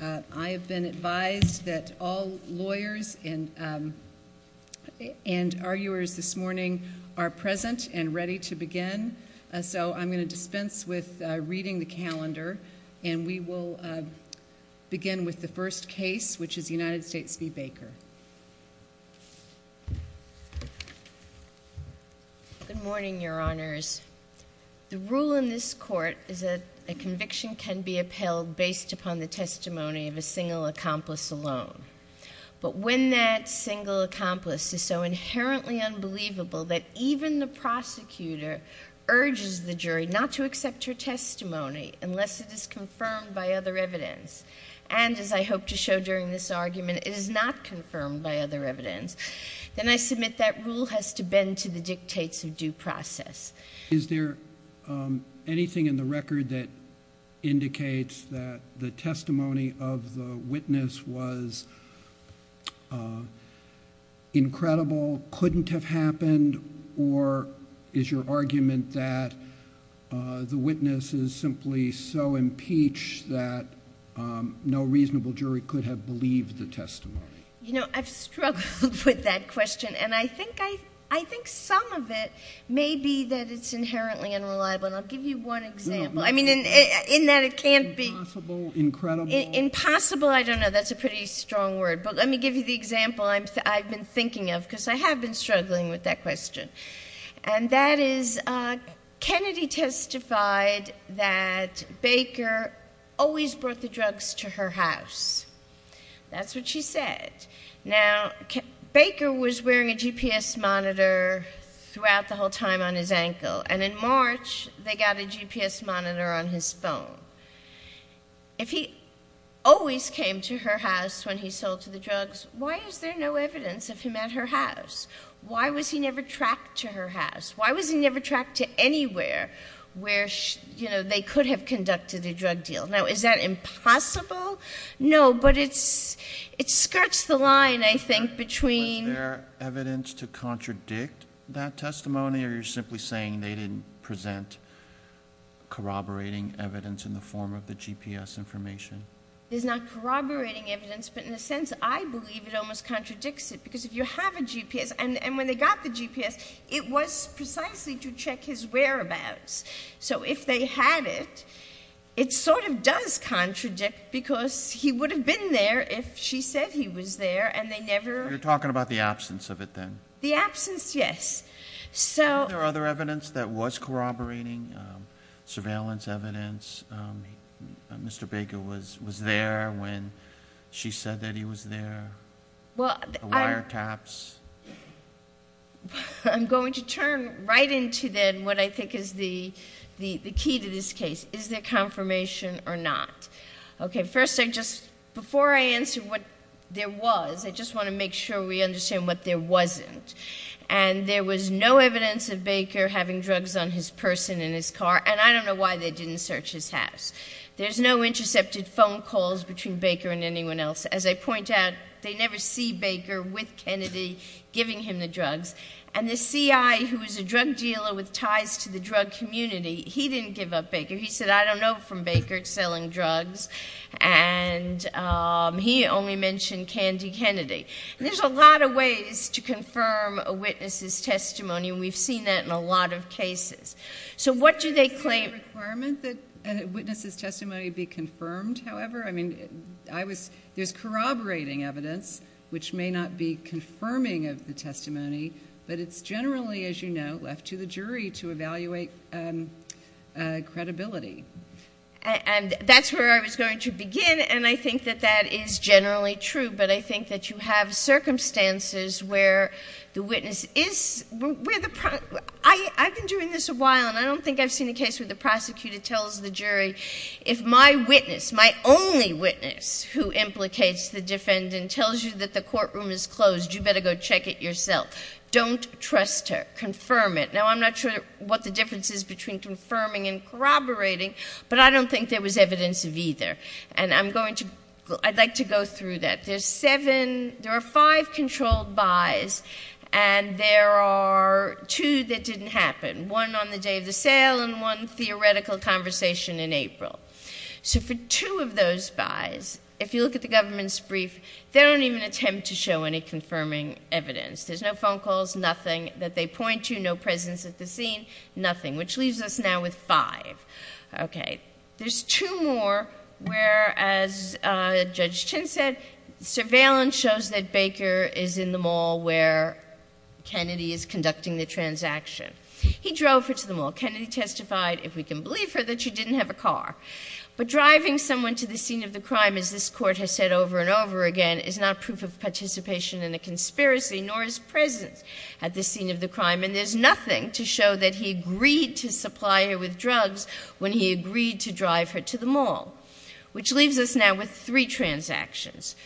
I have been advised that all lawyers and and arguers this morning are present and ready to begin so I'm going to dispense with reading the calendar and we will begin with the first case which is United States v. Baker. Good morning your honors. The rule in this court is that a conviction can be upheld based upon the testimony of a single accomplice alone but when that single accomplice is so inherently unbelievable that even the prosecutor urges the jury not to accept her testimony unless it is confirmed by other evidence and as I hope to show during this argument it is not confirmed by other evidence then I submit that rule has to bend to the dictates of due process. Is there anything in the record that indicates that the testimony of the witness was incredible, couldn't have happened or is your argument that the witness is simply so impeached that no reasonable jury could have believed the testimony? You know I've struggled with that question and I think some of it may be that it's impossible I don't know that's a pretty strong word but let me give you the example I've been thinking of because I have been struggling with that question and that is Kennedy testified that Baker always brought the drugs to her house that's what she said. Now Baker was wearing a GPS monitor throughout the whole time on his ankle and in March they got a GPS monitor on his phone. If he always came to her house when he sold to the drugs why is there no evidence of him at her house? Why was he never tracked to her house? Why was he never tracked to anywhere where you know they could have conducted a drug deal? Now is that impossible? No but it's it skirts the line I think between. Was there evidence to there you're simply saying they didn't present corroborating evidence in the form of the GPS information? There's not corroborating evidence but in a sense I believe it almost contradicts it because if you have a GPS and and when they got the GPS it was precisely to check his whereabouts so if they had it it sort of does contradict because he would have been there if she said he was there and they never. You're talking about the absence of it then? The absence yes. So there are other evidence that was corroborating surveillance evidence Mr. Baker was was there when she said that he was there? Well the wiretaps. I'm going to turn right into then what I think is the the the key to this case is there confirmation or not? Okay first I just before I answer what there was I just want to make sure we understand what there wasn't and there was no evidence of Baker having drugs on his person in his car and I don't know why they didn't search his house. There's no intercepted phone calls between Baker and anyone else as I point out they never see Baker with Kennedy giving him the drugs and the CI who is a drug dealer with ties to the drug community he didn't give up Baker he said I don't know from Baker selling drugs and he only mentioned Candy Kennedy. There's a lot of ways to confirm a witness's testimony and we've seen that in a lot of cases. So what do they claim? Is there a requirement that a witness's testimony be confirmed however? I mean I was there's corroborating evidence which may not be confirming of the testimony but it's generally as you know left to the jury to evaluate credibility. And that's where I was going to begin and I think that you have circumstances where the witness is where the I I've been doing this a while and I don't think I've seen a case where the prosecutor tells the jury if my witness my only witness who implicates the defendant tells you that the courtroom is closed you better go check it yourself. Don't trust her. Confirm it. Now I'm not sure what the difference is between confirming and corroborating but I don't think there was evidence of either and I'm going to go through that. There's seven there are five controlled buys and there are two that didn't happen. One on the day of the sale and one theoretical conversation in April. So for two of those buys if you look at the government's brief they don't even attempt to show any confirming evidence. There's no phone calls, nothing that they point to, no presence at the scene, nothing which leaves us now with five. Okay there's two more where as Judge Chin said surveillance shows that Baker is in the mall where Kennedy is conducting the transaction. He drove her to the mall. Kennedy testified if we can believe her that she didn't have a car. But driving someone to the scene of the crime as this court has said over and over again is not proof of participation in a conspiracy nor his presence at the scene of the crime and there's nothing to show that he agreed to supply her with drugs when he agreed to drive her to the mall. Which leaves us now with three transactions.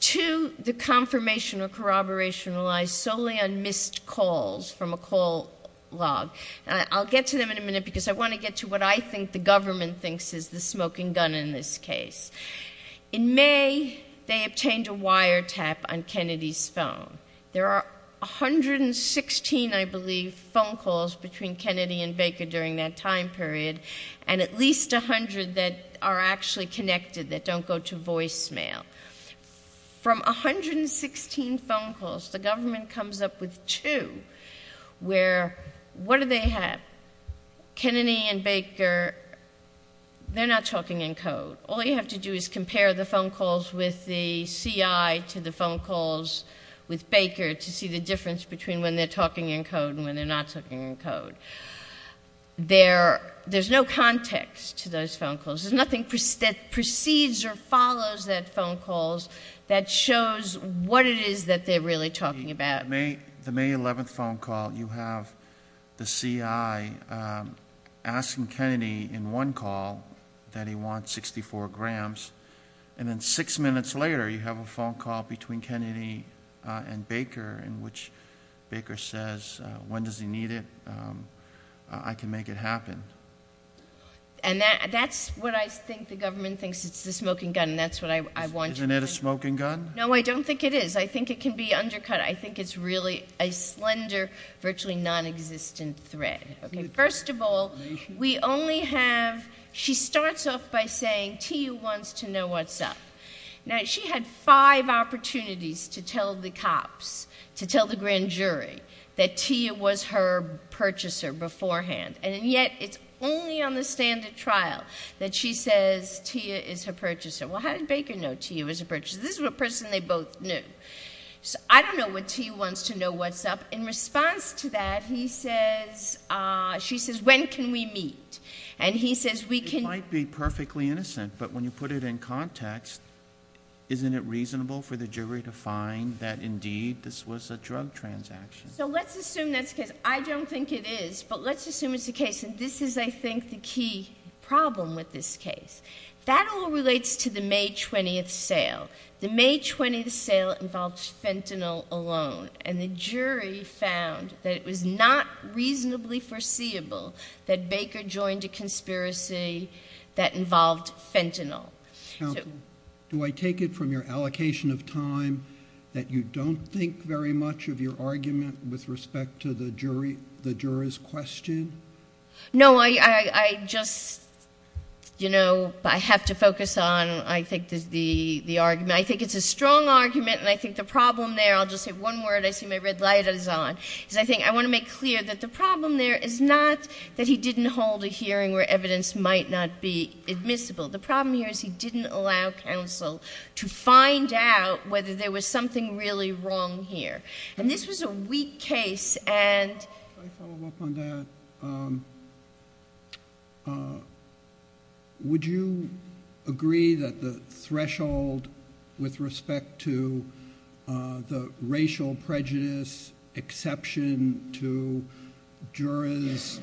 Two, the confirmation or corroboration relies solely on missed calls from a call log. I'll get to them in a minute because I want to get to what I think the government thinks is the smoking gun in this case. In May they obtained a wiretap on Kennedy's phone. There are a hundred and sixteen I believe phone calls between Kennedy and Baker during that time period and at least a hundred that are actually connected that don't go to voicemail. From a hundred and sixteen phone calls the government comes up with two where what do they have? Kennedy and Baker they're not talking in code. All you have to do is compare the phone calls with the CI to the phone calls with Baker to see the difference between when they're talking in code and when they're not talking in code. There's no context to those phone calls. There's nothing that precedes or follows that phone calls that shows what it is that they're really talking about. The May 11th phone call you have the CI asking Kennedy in one call that he wants 64 grams and then six minutes later you have a phone call between Kennedy and Baker in which Baker says when does he need it? I can make it happen. That's what I think the government thinks it's the smoking gun. That's what I want. Isn't it a smoking gun? No, I don't think it is. I think it can be undercut. I think it's really a slender virtually non-existent thread. First of all we only have she starts off by saying Tia wants to know what's up. Now she had five opportunities to tell the cops to tell the grand jury that Tia was her purchaser beforehand and yet it's only on the standard trial that she says Tia is her purchaser. Well how did Baker know Tia was her purchaser? This is a person they both knew. I don't know what Tia wants to know what's up. In response to that he says she says when can we meet and he says we can. It might be perfectly innocent but when you put it in context isn't it reasonable for the jury to find that indeed this was a drug transaction? So let's assume that's because I don't think it is but let's assume it's the case and this is I think the key problem with this case. That all relates to the May 20th sale. The May 20th sale involved fentanyl alone and the jury found that it was not reasonably foreseeable that Baker joined a conspiracy that involved fentanyl. Do I take it from your allocation of time that you don't think very much of your argument with respect to the jury the jurors question? No I just you know I have to focus on I think there's the the argument I think it's a strong argument and I think the problem there I'll just say one word I see my red light is on is I think I want to make clear that the problem there is not that he didn't hold a hearing where evidence might not be admissible. The problem here is he didn't allow counsel to find out whether there was something really wrong here and this was a weak case and... Would you agree that the threshold with respect to the racial prejudice exception to jurors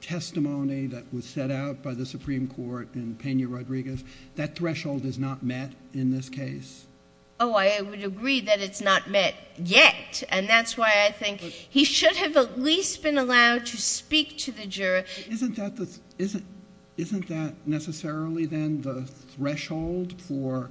testimony that was set out by the Supreme Court and Peña Rodriguez that threshold is not met in this case? Oh I would agree that it's not met yet and that's why I think he should have at least been allowed to speak to the juror. Isn't that necessarily then the threshold for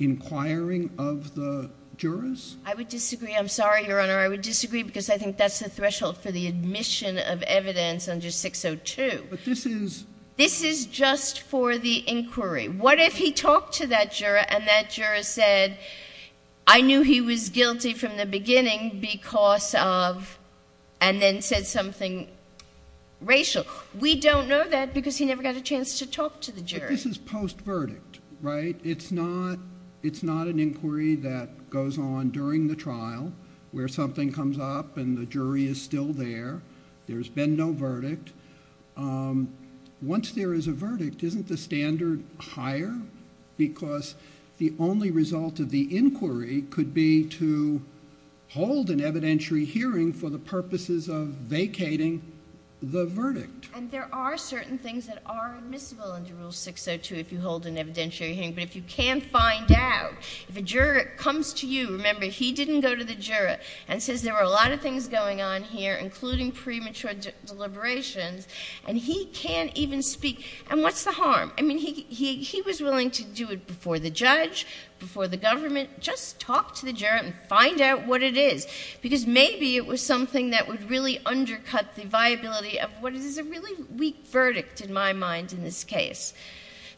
inquiring of the jurors? I would disagree I'm sorry your honor I would disagree because I think that's the threshold for the admission of evidence under 602. But this is... This is just for the inquiry what if he talked to that juror and that juror said I knew he was guilty from the beginning because of... and then said something racial. We don't know that because he never got a chance to talk to the jury. This is post verdict right it's not it's not an inquiry that goes on during the trial where something comes up and the jury is still there there's been no verdict. Once there is a verdict isn't the standard higher because the only result of the inquiry could be to hold an evidentiary hearing for the purposes of vacating the verdict. And there are certain things that are admissible under rule 602 if you hold an evidentiary hearing but if you can't find out if a juror comes to you remember he didn't go to the juror and says there were a lot of things going on here including premature deliberations and he can't even speak and what's the harm I mean he he was willing to do it before the judge before the government just talk to the juror and find out what it is because maybe it was something that would really undercut the viability of what is a really weak verdict in my mind in this case.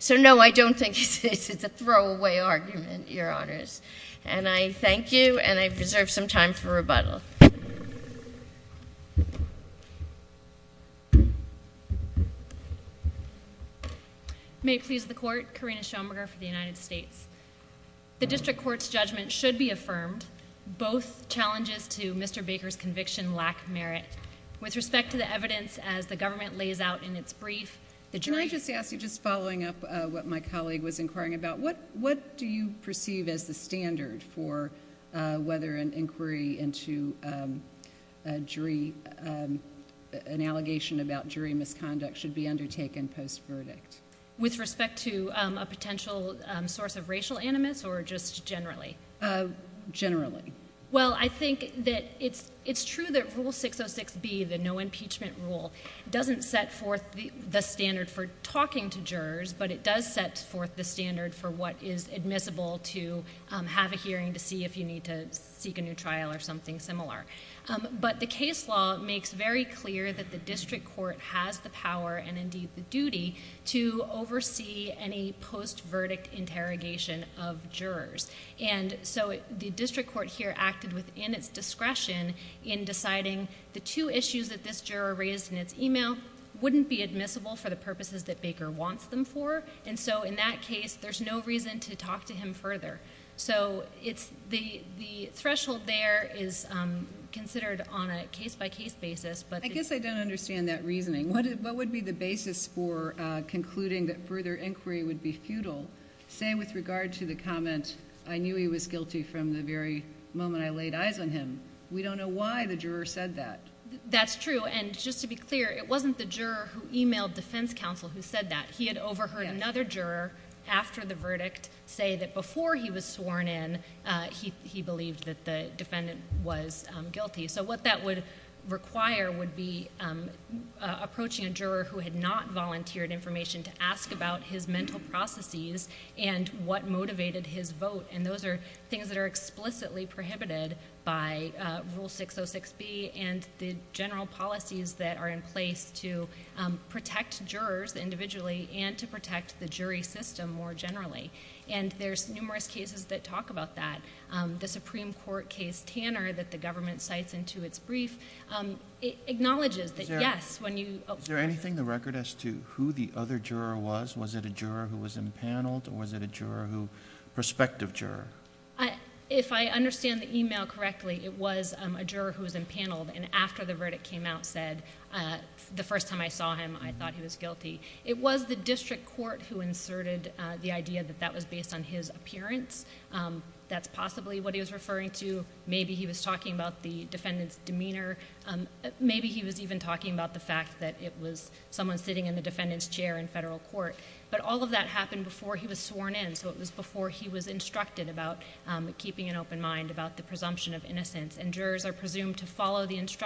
So no I don't think it's a throwaway argument your honors and I reserve some time for rebuttal. May it please the court, Karina Schoenberger for the United States. The district court's judgment should be affirmed both challenges to Mr. Baker's conviction lack merit. With respect to the evidence as the government lays out in its brief the jury... Can I just ask you just following up what my colleague was inquiring about what what do you perceive as the standard for whether an inquiry into a jury an allegation about jury misconduct should be undertaken post verdict? With respect to a potential source of racial animus or just generally? Generally. Well I think that it's it's true that rule 606 B the no impeachment rule doesn't set forth the standard for talking to jurors but it does set forth the standard for what is admissible to have a hearing to see if you need to seek a new trial or something similar. But the case law makes very clear that the district court has the power and indeed the duty to oversee any post verdict interrogation of jurors and so the district court here acted within its discretion in deciding the two issues that this juror raised in its email wouldn't be admissible for the purposes that Baker wants them for and so in that case there's no reason to talk to him further. So it's the the threshold there is considered on a case-by-case basis but... I guess I don't understand that reasoning. What would be the basis for concluding that further inquiry would be futile say with regard to the comment I knew he was guilty from the very moment I laid eyes on him. We don't know why the juror said that. That's true and just to be clear it wasn't the juror who emailed defense counsel who said that. He had overheard another juror after the verdict say that before he was sworn in he believed that the defendant was guilty. So what that would require would be approaching a juror who had not volunteered information to ask about his mental processes and what motivated his vote and those are things that are explicitly prohibited by Rule 606B and the general policies that are in place to protect jurors individually and to protect the jury system more generally. There's numerous cases that talk about that. The Supreme Court case Tanner that the government cites into its brief acknowledges that yes when you...... Is there anything in the record as to who the other juror was? Was it a juror who was impaneled or was it a juror who... prospective juror? If I understand the email correctly it was a juror who was impaneled and after the verdict came out said the first time I saw him I thought he was guilty. It was the district court who inserted the idea that that was based on his appearance. That's possibly what he was referring to. Maybe he was talking about the defendant's demeanor. Maybe he was even talking about the fact that it was someone sitting in the defendant's chair in federal court. But all of that happened before he was sworn in so it was before he was instructed about keeping an open mind about the presumption of innocence and jurors are different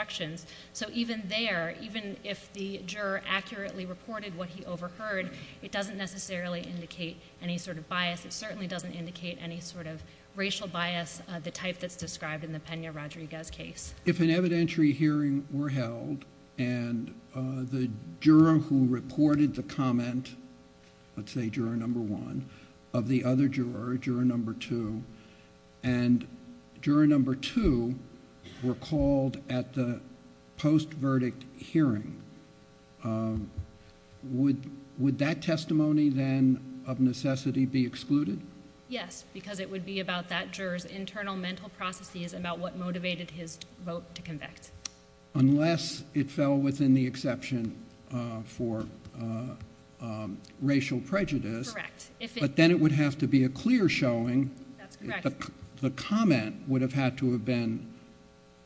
things. So even there, even if the juror accurately reported what he overheard, it doesn't necessarily indicate any sort of bias. It certainly doesn't indicate any sort of racial bias of the type that's described in the Pena-Rodriguez case. If an evidentiary hearing were held and the juror who reported the comment, let's say juror number one, of the other juror, juror number two, and juror number two were called at the post-verdict hearing, would that testimony then of necessity be excluded? Yes, because it would be about that juror's internal mental processes about what motivated his vote to convict. Unless it fell within the exception for racial prejudice, but then it would have to be a clear showing, the comment would have had to have been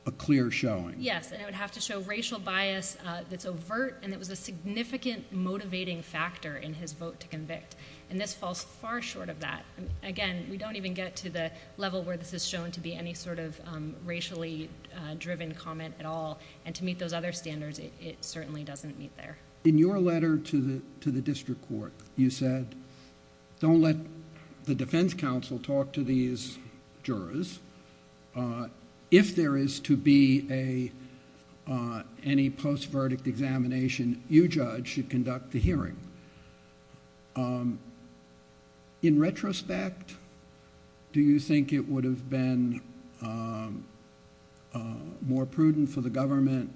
a clear showing. Yes, and it would have to show racial bias that's overt and that was a significant motivating factor in his vote to convict. And this falls far short of that. Again, we don't even get to the level where this is shown to be any sort of racially driven comment at all. And to meet those other standards, it certainly doesn't meet there. In your letter to the district court, you said, don't let the defense counsel talk to these jurors. If there is to be any post-verdict examination, you judge should conduct the hearing. In retrospect, do you think it would have been more prudent for the government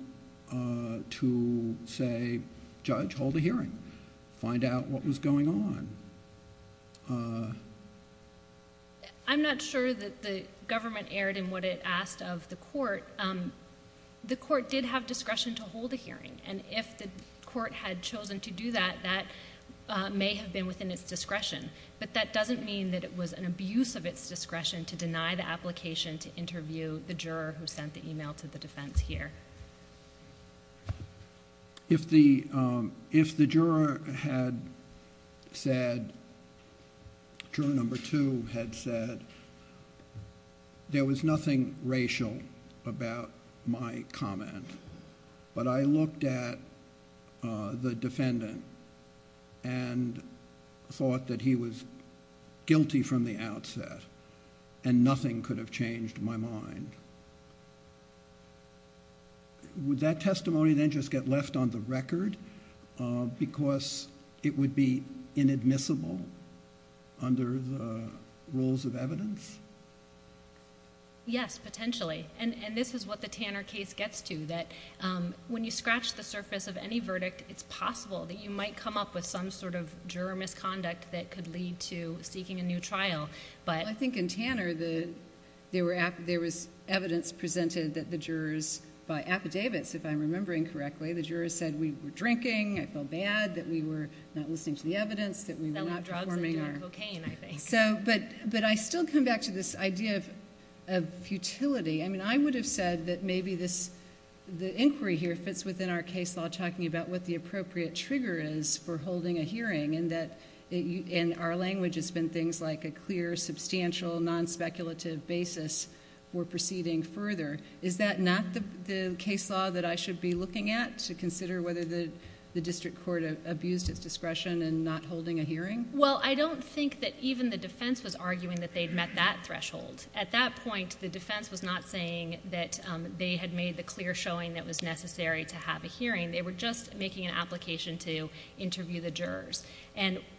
to say, judge, hold a hearing, find out what was going on? I'm not sure that the government erred in what it asked of the court. The court did have discretion to hold a hearing, and if the court had chosen to do that, that may have been within its discretion. But that doesn't mean that it was an abuse of its discretion to deny the application to interview the juror who sent the email to the defense here. If the juror had said, juror number two had said, there was nothing racial about my comment, but I looked at the defendant and thought that he was guilty from the outset, and nothing could have changed my mind, would that testimony then just get left on the record because it would be inadmissible under the rules of evidence? Yes, potentially, and this is what the Tanner case gets to, that when you scratch the surface of any verdict, it's possible that you might come up with some sort of juror misconduct that could lead to seeking a new trial, but... Well, I think in Tanner, there was evidence presented that the jurors by affidavits, if I'm remembering correctly, the jurors said we were drinking, I felt bad, that we were not listening to the evidence, that we were not performing our... That we had drugs and we drank cocaine, I think. But I still come back to this idea of futility. I mean, I would have said that maybe the inquiry here fits within our case law, talking about what the jurors said about holding a hearing, and that in our language, it's been things like a clear, substantial, non-speculative basis for proceeding further. Is that not the case law that I should be looking at to consider whether the district court abused its discretion in not holding a hearing? Well, I don't think that even the defense was arguing that they'd met that threshold. At that point, the defense was not saying that they had made the clear showing that it was necessary to have a hearing. They were just making an application to interview the jurors.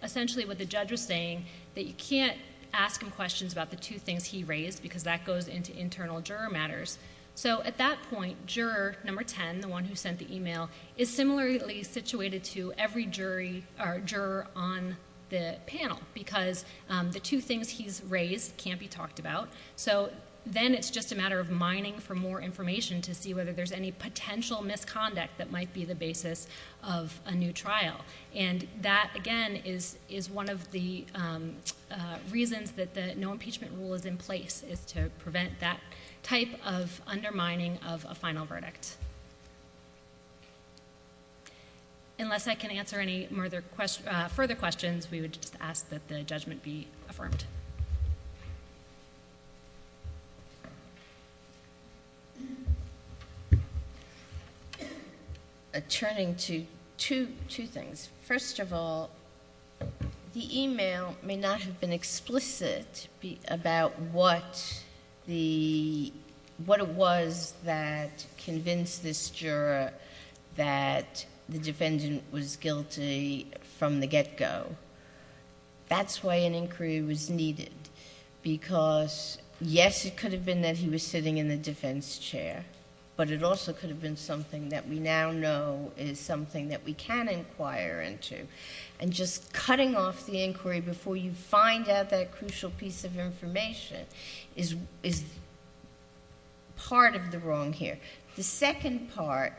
Essentially, what the judge was saying, that you can't ask him questions about the two things he raised because that goes into internal juror matters. At that point, juror number ten, the one who sent the email, is similarly situated to every juror on the panel because the two things he's raised can't be talked about. Then, it's just a matter of mining for more information to see whether there's any potential misconduct that might be the basis of a new trial. That, again, is one of the reasons that the no impeachment rule is in place, is to prevent that type of undermining of a final verdict. Unless I can answer any further questions, we would just ask that the jury be informed. I'm turning to two things. First of all, the email may not have been explicit about what it was that convinced this juror that the defendant was guilty from the get-go. That's why an inquiry was needed because, yes, it could have been that he was sitting in the defense chair, but it also could have been something that we now know is something that we can inquire into. Just cutting off the inquiry before you find out that crucial piece of information is part of the wrong here. The second part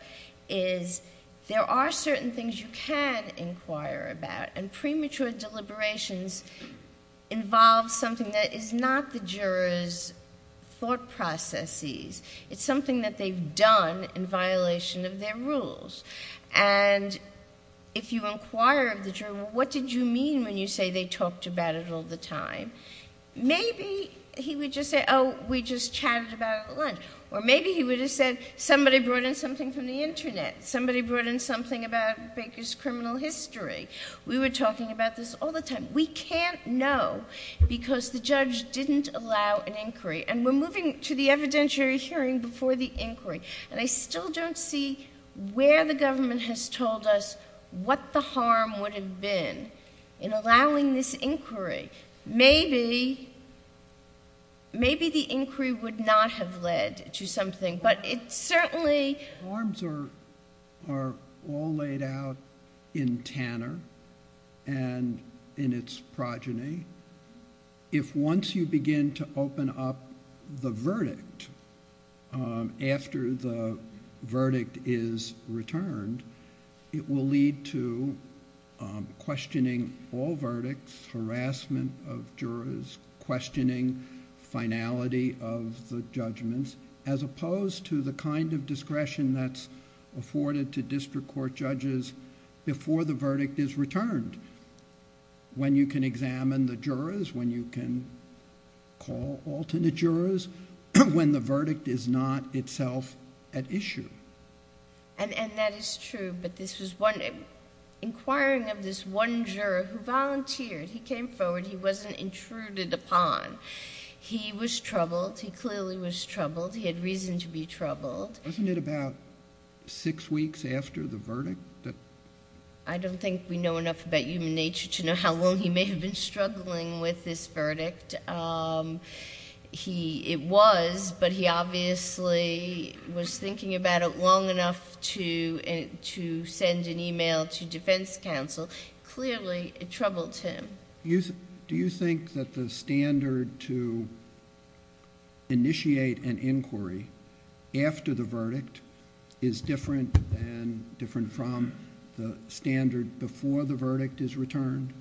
is there are certain things you can inquire about. Premature deliberations involve something that is not the juror's thought processes. It's something that they've done in violation of their rules. If you inquire of the juror, what did you mean when you say they talked about it all the time? Maybe he would just say, oh, we just chatted about it at lunch, or maybe he would have said, somebody brought in something from the Internet. Somebody brought in something about Baker's criminal history. We were talking about this all the time. We can't know because the judge didn't allow an inquiry. We're moving to the evidentiary hearing before the inquiry. I still don't see where the government has told us what the harm would have been in allowing this inquiry. Maybe the inquiry would not have led to something, but it certainly... Harms are all laid out in Tanner and in its progeny. If once you begin to open up the verdict after the verdict is returned, it will lead to questioning all verdicts, harassment of jurors, questioning finality of the judgments as opposed to the kind of discretion that's afforded to district court judges before the verdict is returned. When you can examine the jurors, when you can call alternate jurors, when the verdict is not itself at issue. And that is true, but this was one... Inquiring of this one juror who volunteered, he came forward, he wasn't intruded upon. He was troubled. He clearly was troubled. He had reason to be troubled. Wasn't it about six weeks after the verdict that... I don't think we know enough about human nature to know how long he may have been struggling with this verdict. It was, but he obviously was thinking about it long enough to send an email to defense counsel. Clearly, it troubled him. Do you think that the standard to initiate an inquiry after the verdict is different than... different from the standard before the verdict is returned?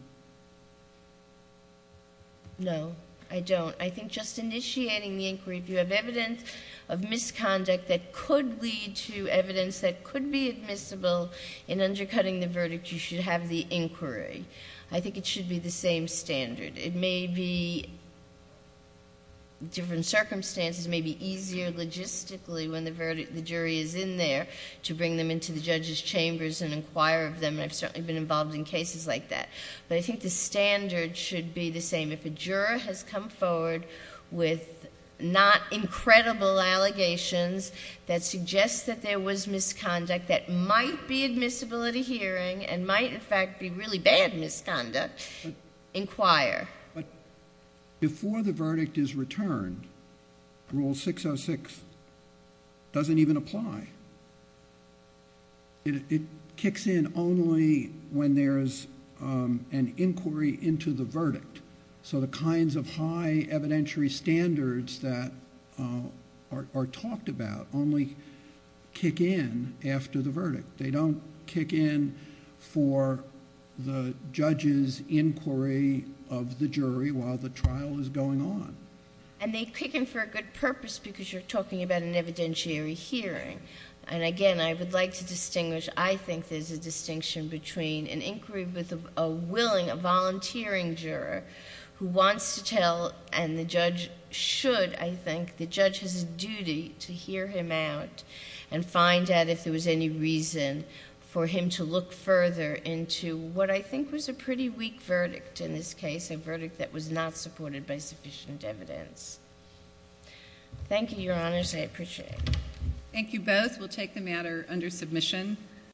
No, I don't. I think just initiating the inquiry, if you have evidence of misconduct that could lead to evidence that could be admissible in undercutting the verdict, you should have the inquiry. I think it should be the same standard. It may be different circumstances. It may be easier logistically when the jury is in there to bring them into the judge's chambers and inquire of them. I've certainly been involved in cases like that. I think the standard should be the same. If a juror has come forward with not incredible allegations that suggest that there was misconduct that might be admissible at a hearing and might, in fact, be really bad misconduct, inquire. Before the verdict is returned, Rule 606 doesn't even apply. It kicks in only when there's an inquiry into the verdict. The kinds of high evidentiary standards that are talked about only kick in after the verdict. They don't kick in for the judge's inquiry of the jury while the trial is going on. They kick in for a good purpose because you're talking about an evidentiary hearing. Again, I would like to distinguish, I think there's a distinction between an inquiry with a willing, a volunteering juror who wants to tell and the judge should, I think, the judge has a duty to hear him out and find out if there was any reason for him to look further into what I think was a pretty weak verdict in this case, a verdict that was not supported by sufficient evidence. Thank you, Your Honors. I appreciate it. Thank you both. We'll take the matter under submission.